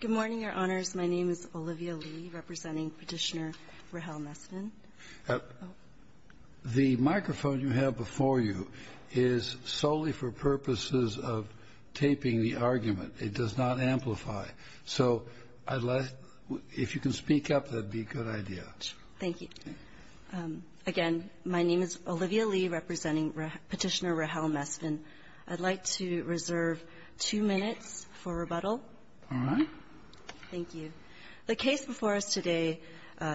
Good morning, Your Honors. My name is Olivia Lee, representing Petitioner Rahel Mestin. The microphone you have before you is solely for purposes of taping the argument. It does not amplify. So if you can speak up, that would be a good idea. Thank you. Again, my name is Olivia Lee, representing Petitioner Rahel Mestin. I'd like to reserve two minutes for rebuttal. All right. Thank you. The case before us today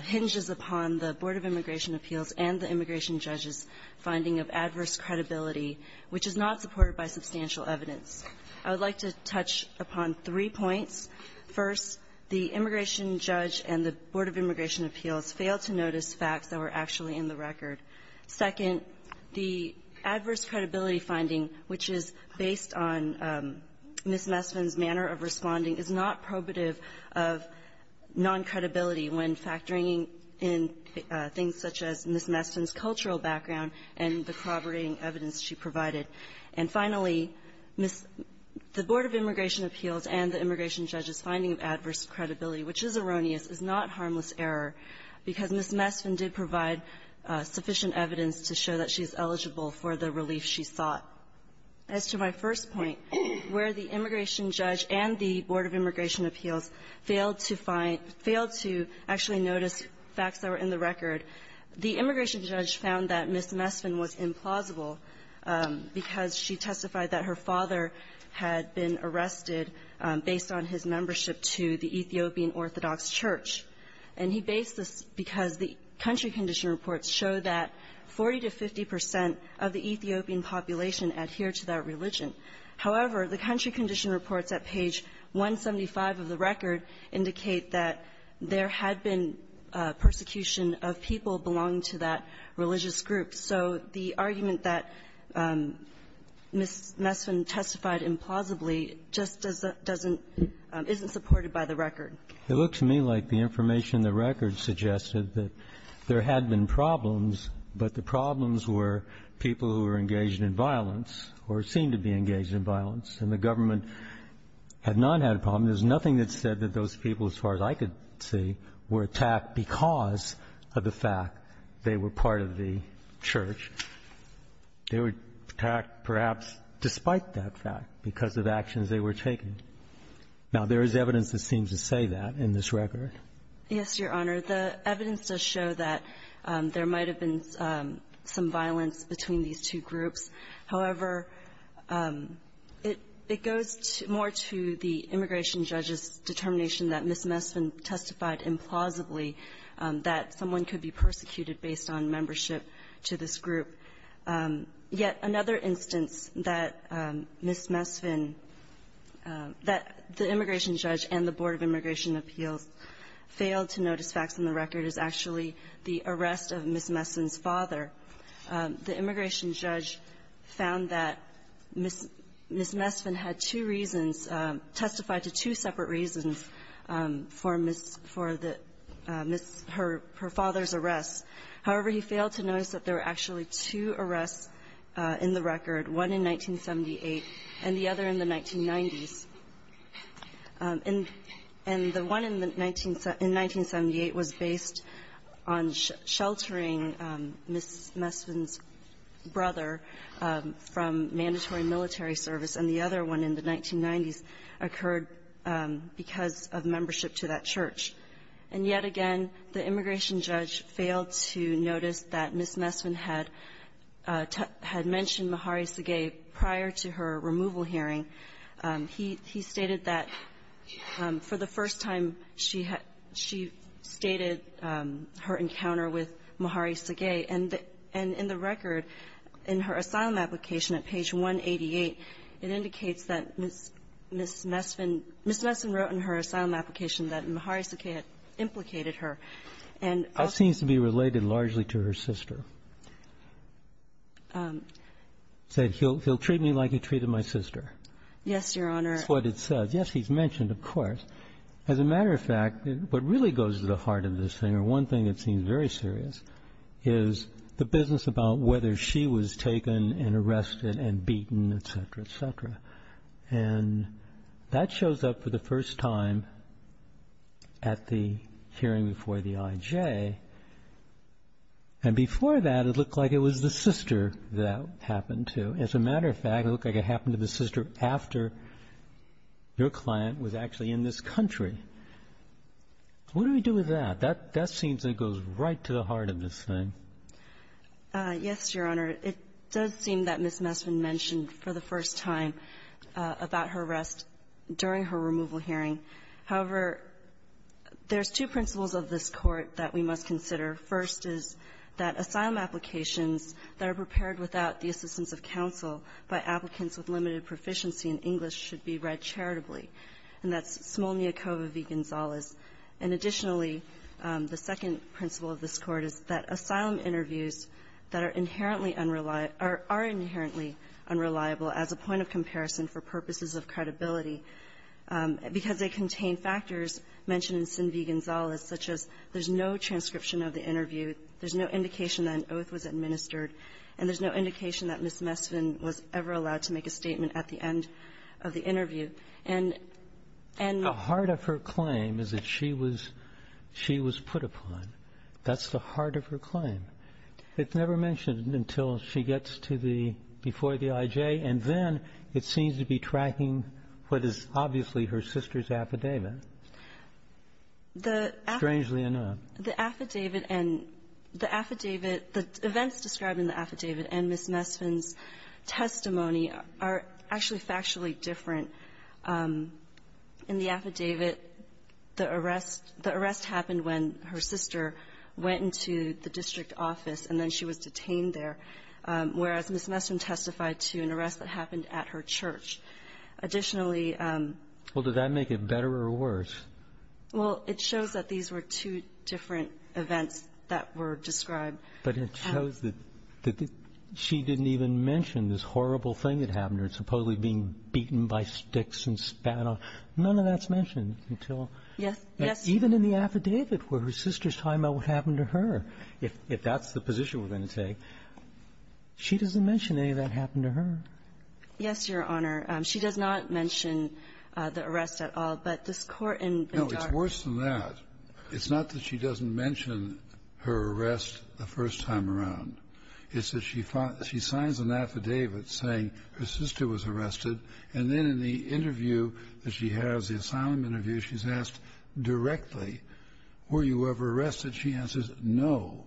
hinges upon the Board of Immigration Appeals and the immigration judge's finding of adverse credibility, which is not supported by substantial evidence. I would like to touch upon three points. First, the immigration judge and the Board of Immigration Appeals failed to notice facts that were actually in the record. Second, the adverse credibility finding, which is based on Ms. Mestin's manner of responding, is not probative of non-credibility when factoring in things such as Ms. Mestin's cultural background and the corroborating evidence she provided. And finally, Ms. — the Board of Immigration Appeals and the immigration judge's finding of adverse credibility, which is erroneous, is not harmless error, because Ms. Mestin did provide sufficient evidence to show that she's eligible for the relief she sought. As to my first point, where the immigration judge and the Board of Immigration Appeals failed to find — failed to actually notice facts that were in the record, the immigration judge found that Ms. Mestin was implausible because she testified to the Ethiopian Orthodox Church. And he based this because the country condition reports show that 40 to 50 percent of the Ethiopian population adhere to that religion. However, the country condition reports at page 175 of the record indicate that there had been persecution of people belonging to that religious group. So the argument that Ms. Mestin testified implausibly just doesn't — doesn't — isn't supportive of the fact that Ms. Mestin was supported by the record. It looks to me like the information in the record suggested that there had been problems, but the problems were people who were engaged in violence or seemed to be engaged in violence, and the government had not had a problem. There's nothing that said that those people, as far as I could see, were attacked because of the fact they were part of the church. They were attacked, perhaps, despite that fact, because of actions they were taking. Now, there is evidence that seems to say that in this record. Yes, Your Honor. The evidence does show that there might have been some violence between these two groups. However, it — it goes more to the immigration judge's determination that Ms. Mestin testified implausibly that someone could be persecuted based on membership to this group. Yet another instance that Ms. Mestin testified that the immigration judge and the Board of Immigration Appeals failed to notice facts in the record is actually the arrest of Ms. Mestin's father. The immigration judge found that Ms. Mestin had two reasons, testified to two separate reasons, for Ms. — for the — her father's arrest. However, he failed to notice that there were actually two arrests in the record, one in 1978 and the other in the 1990s. And — and the one in the — in 1978 was based on sheltering Ms. Mestin's brother from mandatory military service, and the other one in the 1990s occurred because of membership to that church. And yet again, the immigration judge failed to notice that Ms. Mestin had — had mentioned Mahari Segei prior to her removal hearing. He — he stated that for the first time, she had — she stated her encounter with Mahari Segei, and the — and in the record, in her asylum application at page 188, it indicates that Ms. — Ms. Mestin — Ms. Mestin wrote in her asylum application that Mahari Segei had implicated her. And — And it seems to be related largely to her sister. He said, he'll — he'll treat me like he treated my sister. Yes, Your Honor. That's what it says. Yes, he's mentioned, of course. As a matter of fact, what really goes to the heart of this thing, or one thing that seems very serious, is the business about whether she was taken and arrested and beaten, et cetera, et cetera. And that shows up for the first time at the hearing before the I.J. And before that, it looked like it was the sister that happened to. As a matter of fact, it looked like it happened to the sister after your client was actually in this country. What do we do with that? That — that seems that it goes right to the heart of this thing. Yes, Your Honor. It does seem that Ms. Messman mentioned for the first time about her arrest during her removal hearing. However, there's two principles of this Court that we must consider. First is that asylum applications that are prepared without the assistance of counsel by applicants with limited proficiency in English should be read charitably. And that's Smolniakova v. Gonzalez. And additionally, the second principle of this Court is that asylum interviews that are inherently unreliable — are inherently unreliable as a point of comparison for purposes of credibility, because they contain factors mentioned in Sin V. Gonzalez, such as there's no transcription of the interview, there's no indication that an oath was administered, and there's no indication that Ms. Messman was ever allowed to make a statement at the end of the interview. And — The heart of her claim is that she was — she was put upon. That's the heart of her claim. It's never mentioned until she gets to the — before the IJ, and then it seems to be tracking what is obviously her sister's affidavit. The affidavit — Strangely enough. The affidavit and — the affidavit — the events described in the affidavit and Ms. Messman's testimony are actually factually different. In the affidavit, the arrest — the arrest happened when her sister went into the she was detained there, whereas Ms. Messman testified to an arrest that happened at her church. Additionally — Well, does that make it better or worse? Well, it shows that these were two different events that were described. But it shows that — that she didn't even mention this horrible thing that happened to her, supposedly being beaten by sticks and spat on. None of that's mentioned until — Yes. Yes. Even in the affidavit, where her sister's talking about what happened to her. If that's the position we're going to take, she doesn't mention any of that happened to her. Yes, Your Honor. She does not mention the arrest at all. But this Court in Ben-Darra — No, it's worse than that. It's not that she doesn't mention her arrest the first time around. It's that she signs an affidavit saying her sister was arrested, and then in the interview that she has, the asylum interview, she's asked directly, were you ever arrested? She answers, no.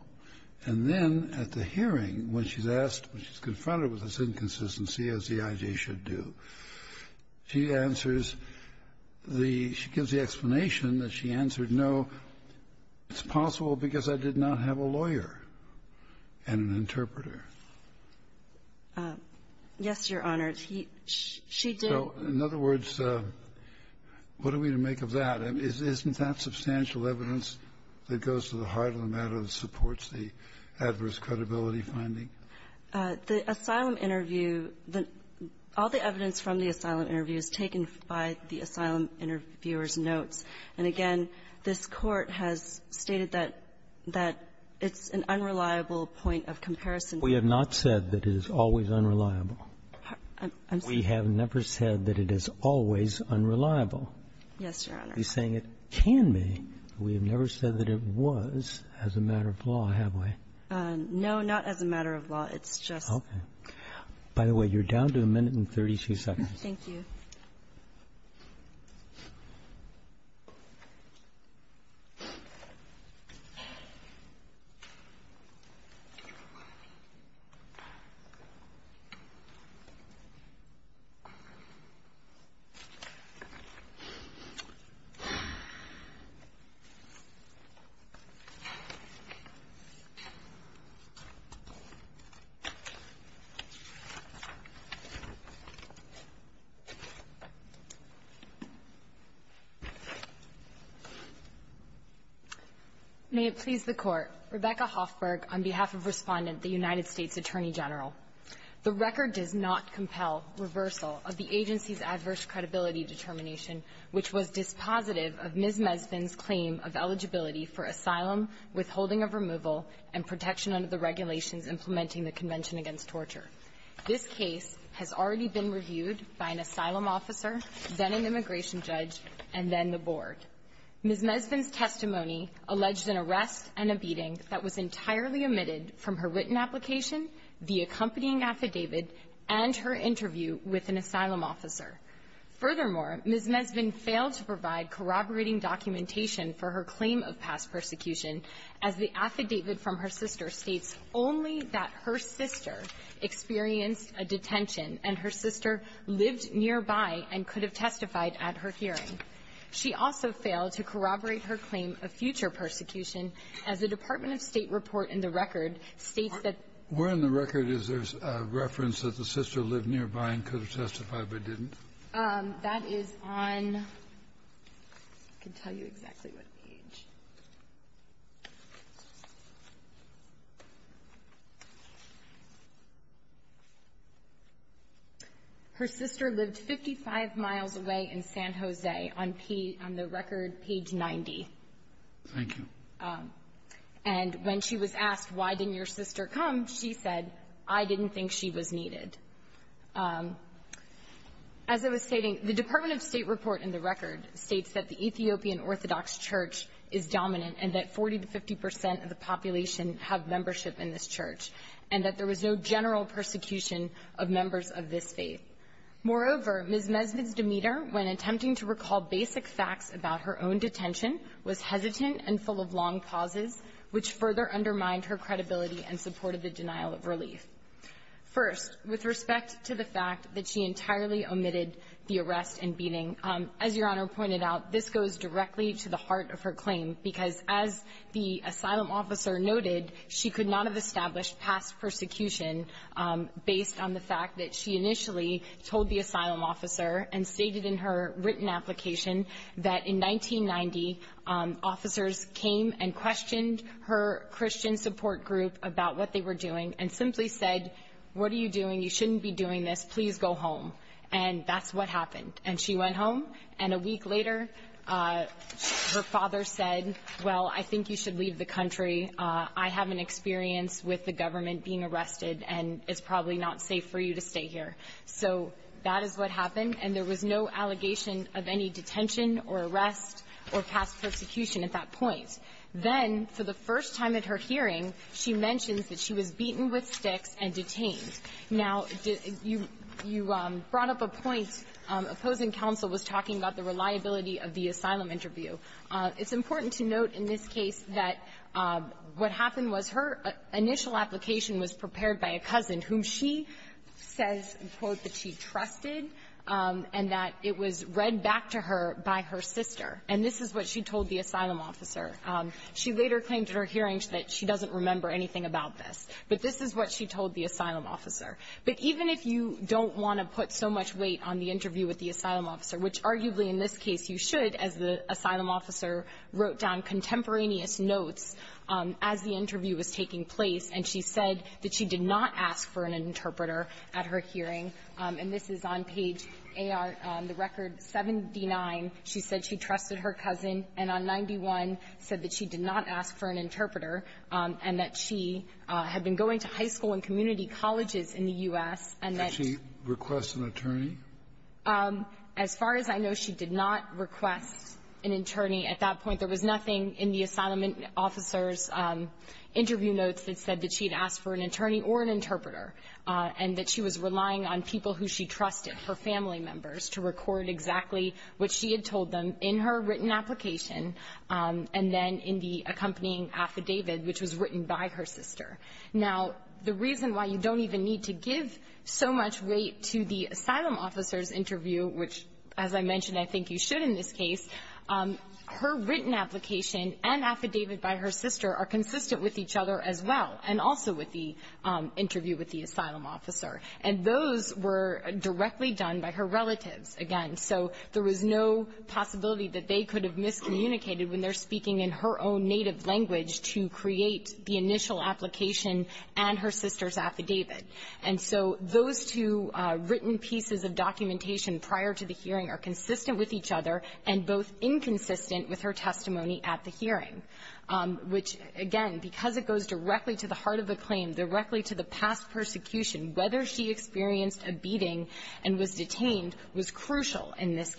And then at the hearing, when she's asked, when she's confronted with this inconsistency, as the I.J. should do, she answers the — she gives the explanation that she answered no, it's possible because I did not have a lawyer and an interpreter. Yes, Your Honor. He — she did. So, in other words, what are we to make of that? I mean, isn't that substantial evidence that goes to the heart of the matter that supports the adverse credibility finding? The asylum interview, the — all the evidence from the asylum interview is taken by the asylum interviewer's notes. And again, this Court has stated that — that it's an unreliable point of comparison. We have not said that it is always unreliable. I'm sorry? We have never said that it is always unreliable. Yes, Your Honor. I'm not saying it can be, but we have never said that it was as a matter of law, have we? No, not as a matter of law. It's just — Okay. By the way, you're down to a minute and 32 seconds. Thank you. May it please the Court. Rebecca Hoffberg on behalf of Respondent, the United States Attorney General. The record does not compel reversal of the agency's adverse credibility determination, which was dispositive of Ms. Mesfin's claim of eligibility for asylum, withholding of removal, and protection under the regulations implementing the Convention Against Torture. This case has already been reviewed by an asylum officer, then an immigration judge, and then the Board. Ms. Mesfin's testimony alleged an arrest and a beating that was entirely omitted from her written application, the accompanying affidavit, and her interview with an asylum officer. Furthermore, Ms. Mesfin failed to provide corroborating documentation for her claim of past persecution, as the affidavit from her sister states only that her sister experienced a detention and her sister lived nearby and could have testified at her hearing. She also failed to corroborate her claim of future persecution, as the Department of State report in the record states that the — Where in the record is there a reference that the sister lived nearby and could have testified but didn't? That is on — I can tell you exactly what page. Her sister lived 55 miles away in San Jose, on the record, page 90. Thank you. And when she was asked, why didn't your sister come, she said, I didn't think she was needed. As I was stating, the Department of State report in the record states that the and that 40 to 50 percent of the population have membership in this church and that there was no general persecution of members of this faith. Moreover, Ms. Mesfin's demeanor when attempting to recall basic facts about her own detention was hesitant and full of long pauses, which further undermined her credibility and supported the denial of relief. First, with respect to the fact that she entirely omitted the arrest and beating, as Your Honor pointed out, this goes directly to the heart of her claim, because as the asylum officer noted, she could not have established past persecution based on the fact that she initially told the asylum officer and stated in her written application that in 1990, officers came and questioned her Christian support group about what they were doing and simply said, what are you doing? You shouldn't be doing this. Please go home. And that's what happened. And she went home. And a week later, her father said, well, I think you should leave the country. I have an experience with the government being arrested, and it's probably not safe for you to stay here. So that is what happened, and there was no allegation of any detention or arrest or past persecution at that point. Then, for the first time at her hearing, she mentions that she was beaten with sticks and detained. Now, you brought up a point. Opposing counsel was talking about the reliability of the asylum interview. It's important to note in this case that what happened was her initial application was prepared by a cousin whom she says, quote, that she trusted and that it was read back to her by her sister. And this is what she told the asylum officer. She later claimed at her hearing that she doesn't remember anything about this. But this is what she told the asylum officer. But even if you don't want to put so much weight on the interview with the asylum officer, which arguably in this case you should, as the asylum officer wrote down contemporaneous notes as the interview was taking place, and she said that she did not ask for an interpreter at her hearing. And this is on page AR, the record 79. She said she trusted her cousin, and on 91, said that she did not ask for an interpreter. She said she had been going to high school and community colleges in the U.S. and that she did not ask for an interpreter. And that she had been going to high school and community colleges in the U.S. and that she did not ask for an interpreter. As far as I know, she did not request an attorney at that point. There was nothing in the asylum officer's interview notes that said that she had asked for an attorney or an interpreter, and that she was relying on people who she trusted, her family members, to record exactly what she had told them in her written application and then in the accompanying affidavit, which was written by her sister. Now, the reason why you don't even need to give so much weight to the asylum officer's interview, which, as I mentioned, I think you should in this case, her written application and affidavit by her sister are consistent with each other as well, and also with the interview with the asylum officer. And those were directly done by her relatives. Again, so there was no possibility that they could have miscommunicated when they're speaking in her own native language to create the initial application and her sister's affidavit. And so those two written pieces of documentation prior to the hearing are consistent with each other and both inconsistent with her testimony at the hearing, which, again, because it goes directly to the heart of the claim, directly to the past persecution, whether she experienced a beating and was detained was crucial in this And so that's what she's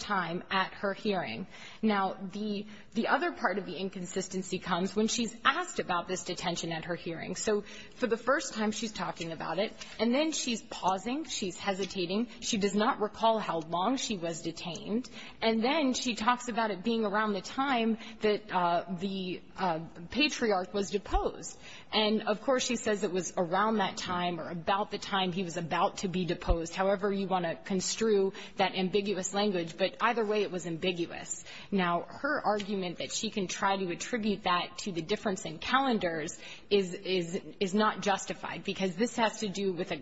talking about at her hearing. Now, the other part of the inconsistency comes when she's asked about this detention at her hearing. So for the first time, she's talking about it, and then she's pausing, she's hesitating, she does not recall how long she was detained, and then she talks about it being around the time that the patriarch was deposed. And, of course, she says it was around that time or about the time he was about to be ambiguous. Now, her argument that she can try to attribute that to the difference in calendars is not justified, because this has to do with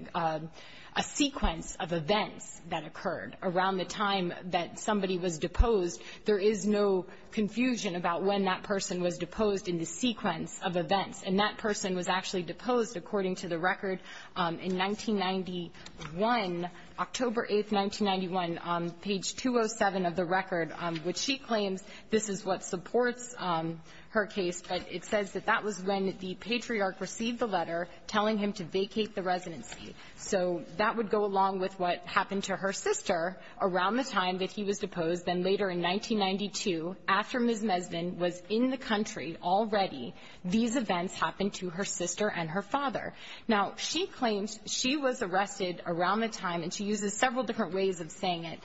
a sequence of events that occurred around the time that somebody was deposed. There is no confusion about when that person was deposed in the sequence of events. And that person was actually deposed, according to the record, in 1991, October 8, 1991, on page 207 of the record, which she claims this is what supports her case. But it says that that was when the patriarch received the letter telling him to vacate the residency. So that would go along with what happened to her sister around the time that he was deposed. Then later in 1992, after Ms. Mesvin was in the country already, these events happened to her sister and her father. Now, she claims she was arrested around the time, and she uses several different ways of saying it.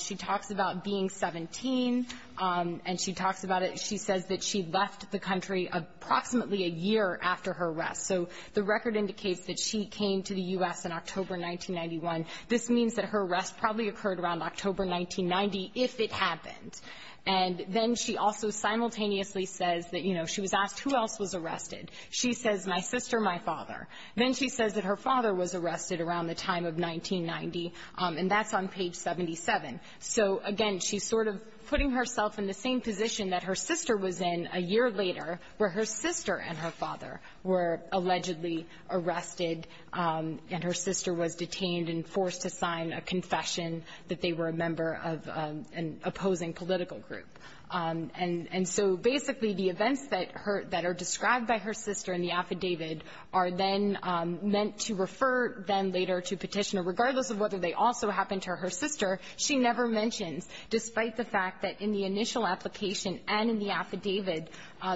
She talks about being 17, and she talks about it. She says that she left the country approximately a year after her arrest. So the record indicates that she came to the U.S. in October 1991. This means that her arrest probably occurred around October 1990, if it happened. And then she also simultaneously says that, you know, she was asked who else was arrested. She says, my sister, my father. Then she says that her father was arrested around the time of 1990, and that's on page 77. So, again, she's sort of putting herself in the same position that her sister was in a year later, where her sister and her father were allegedly arrested, and her sister was detained and forced to sign a confession that they were a member of an opposing political group. And so, basically, the events that are described by her sister in the affidavit are then meant to refer them later to Petitioner, regardless of whether they also happened to her sister. She never mentions, despite the fact that in the initial application and in the affidavit,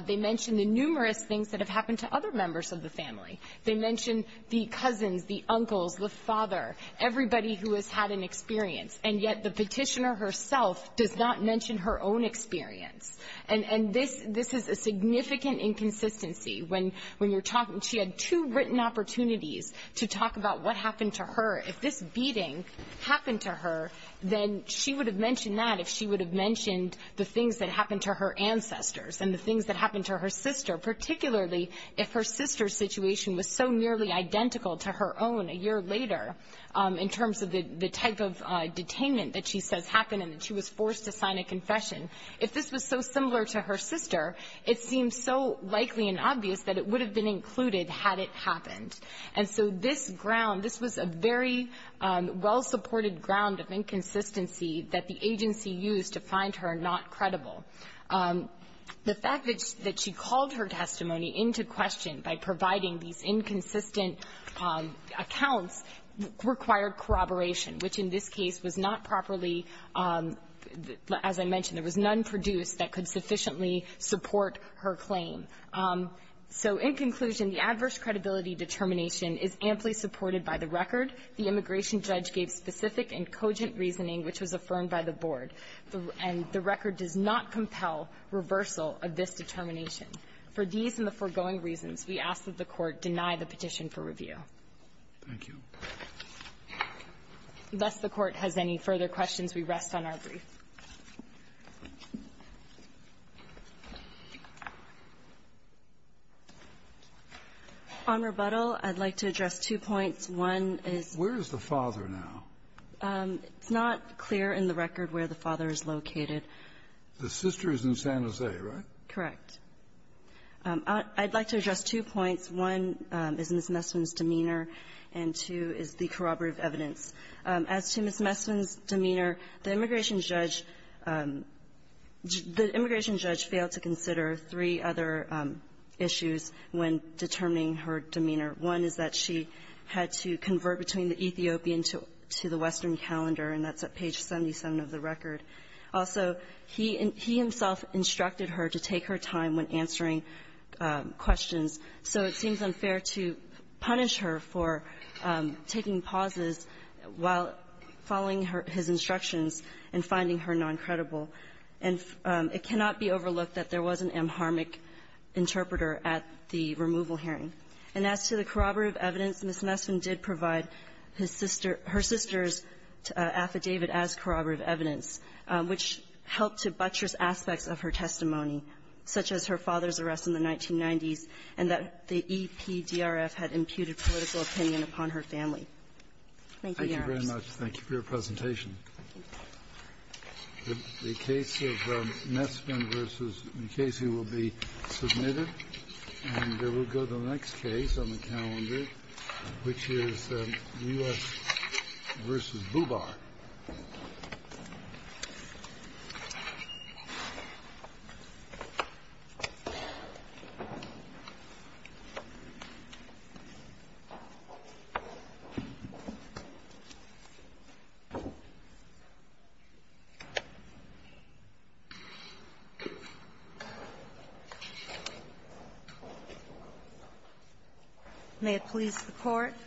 they mention the numerous things that have happened to other members of the family. They mention the cousins, the uncles, the father, everybody who has had an experience. And yet, the Petitioner herself does not mention her own experience. And this is a significant inconsistency. When you're talking, she had two written opportunities to talk about what happened to her. If this beating happened to her, then she would have mentioned that if she would have mentioned the things that happened to her ancestors and the things that happened to her sister, particularly if her sister's situation was so nearly identical to her own a year later in terms of the type of detainment that she says happened and that she was forced to sign a confession. If this was so similar to her sister, it seems so likely and obvious that it would have been included had it happened. And so this ground, this was a very well-supported ground of inconsistency that the agency used to find her not credible. The fact that she called her testimony into question by providing these inconsistent accounts required corroboration, which in this case was not properly, as I mentioned, there was none produced that could sufficiently support her claim. So in conclusion, the adverse credibility determination is amply supported by the record. The immigration judge gave specific and cogent reasoning, which was affirmed by the Board. And the record does not compel reversal of this determination. For these and the foregoing reasons, we ask that the Court deny the petition for review. Thank you. Lest the Court has any further questions, we rest on our brief. On rebuttal, I'd like to address two points. One is the father now. It's not clear in the record where the father is located. The sister is in San Jose, right? Correct. I'd like to address two points. One is Ms. Messman's demeanor, and two is the corroborative evidence. As to Ms. Messman's demeanor, the immigration judge failed to consider three other issues when determining her demeanor. One is that she had to convert between the Ethiopian to the Western calendar, and that's at page 77 of the record. Also, he himself instructed her to take her time when answering questions, so it seems unfair to punish her for taking pauses while following his instructions and finding her noncredible. And it cannot be overlooked that there was an amharmic interpreter at the removal hearing. And as to the corroborative evidence, Ms. Messman did provide her sister's affidavit as corroborative evidence, which helped to buttress aspects of her testimony, such as her father's arrest in the 1990s, and that the EPDRF had imputed political opinion upon her family. Thank you, Your Honors. Thank you very much. Thank you for your presentation. The case of Messman v. McKaysey will be submitted, and there will go the next case on the calendar, which is U.S. v. Bubar. May it please the Court.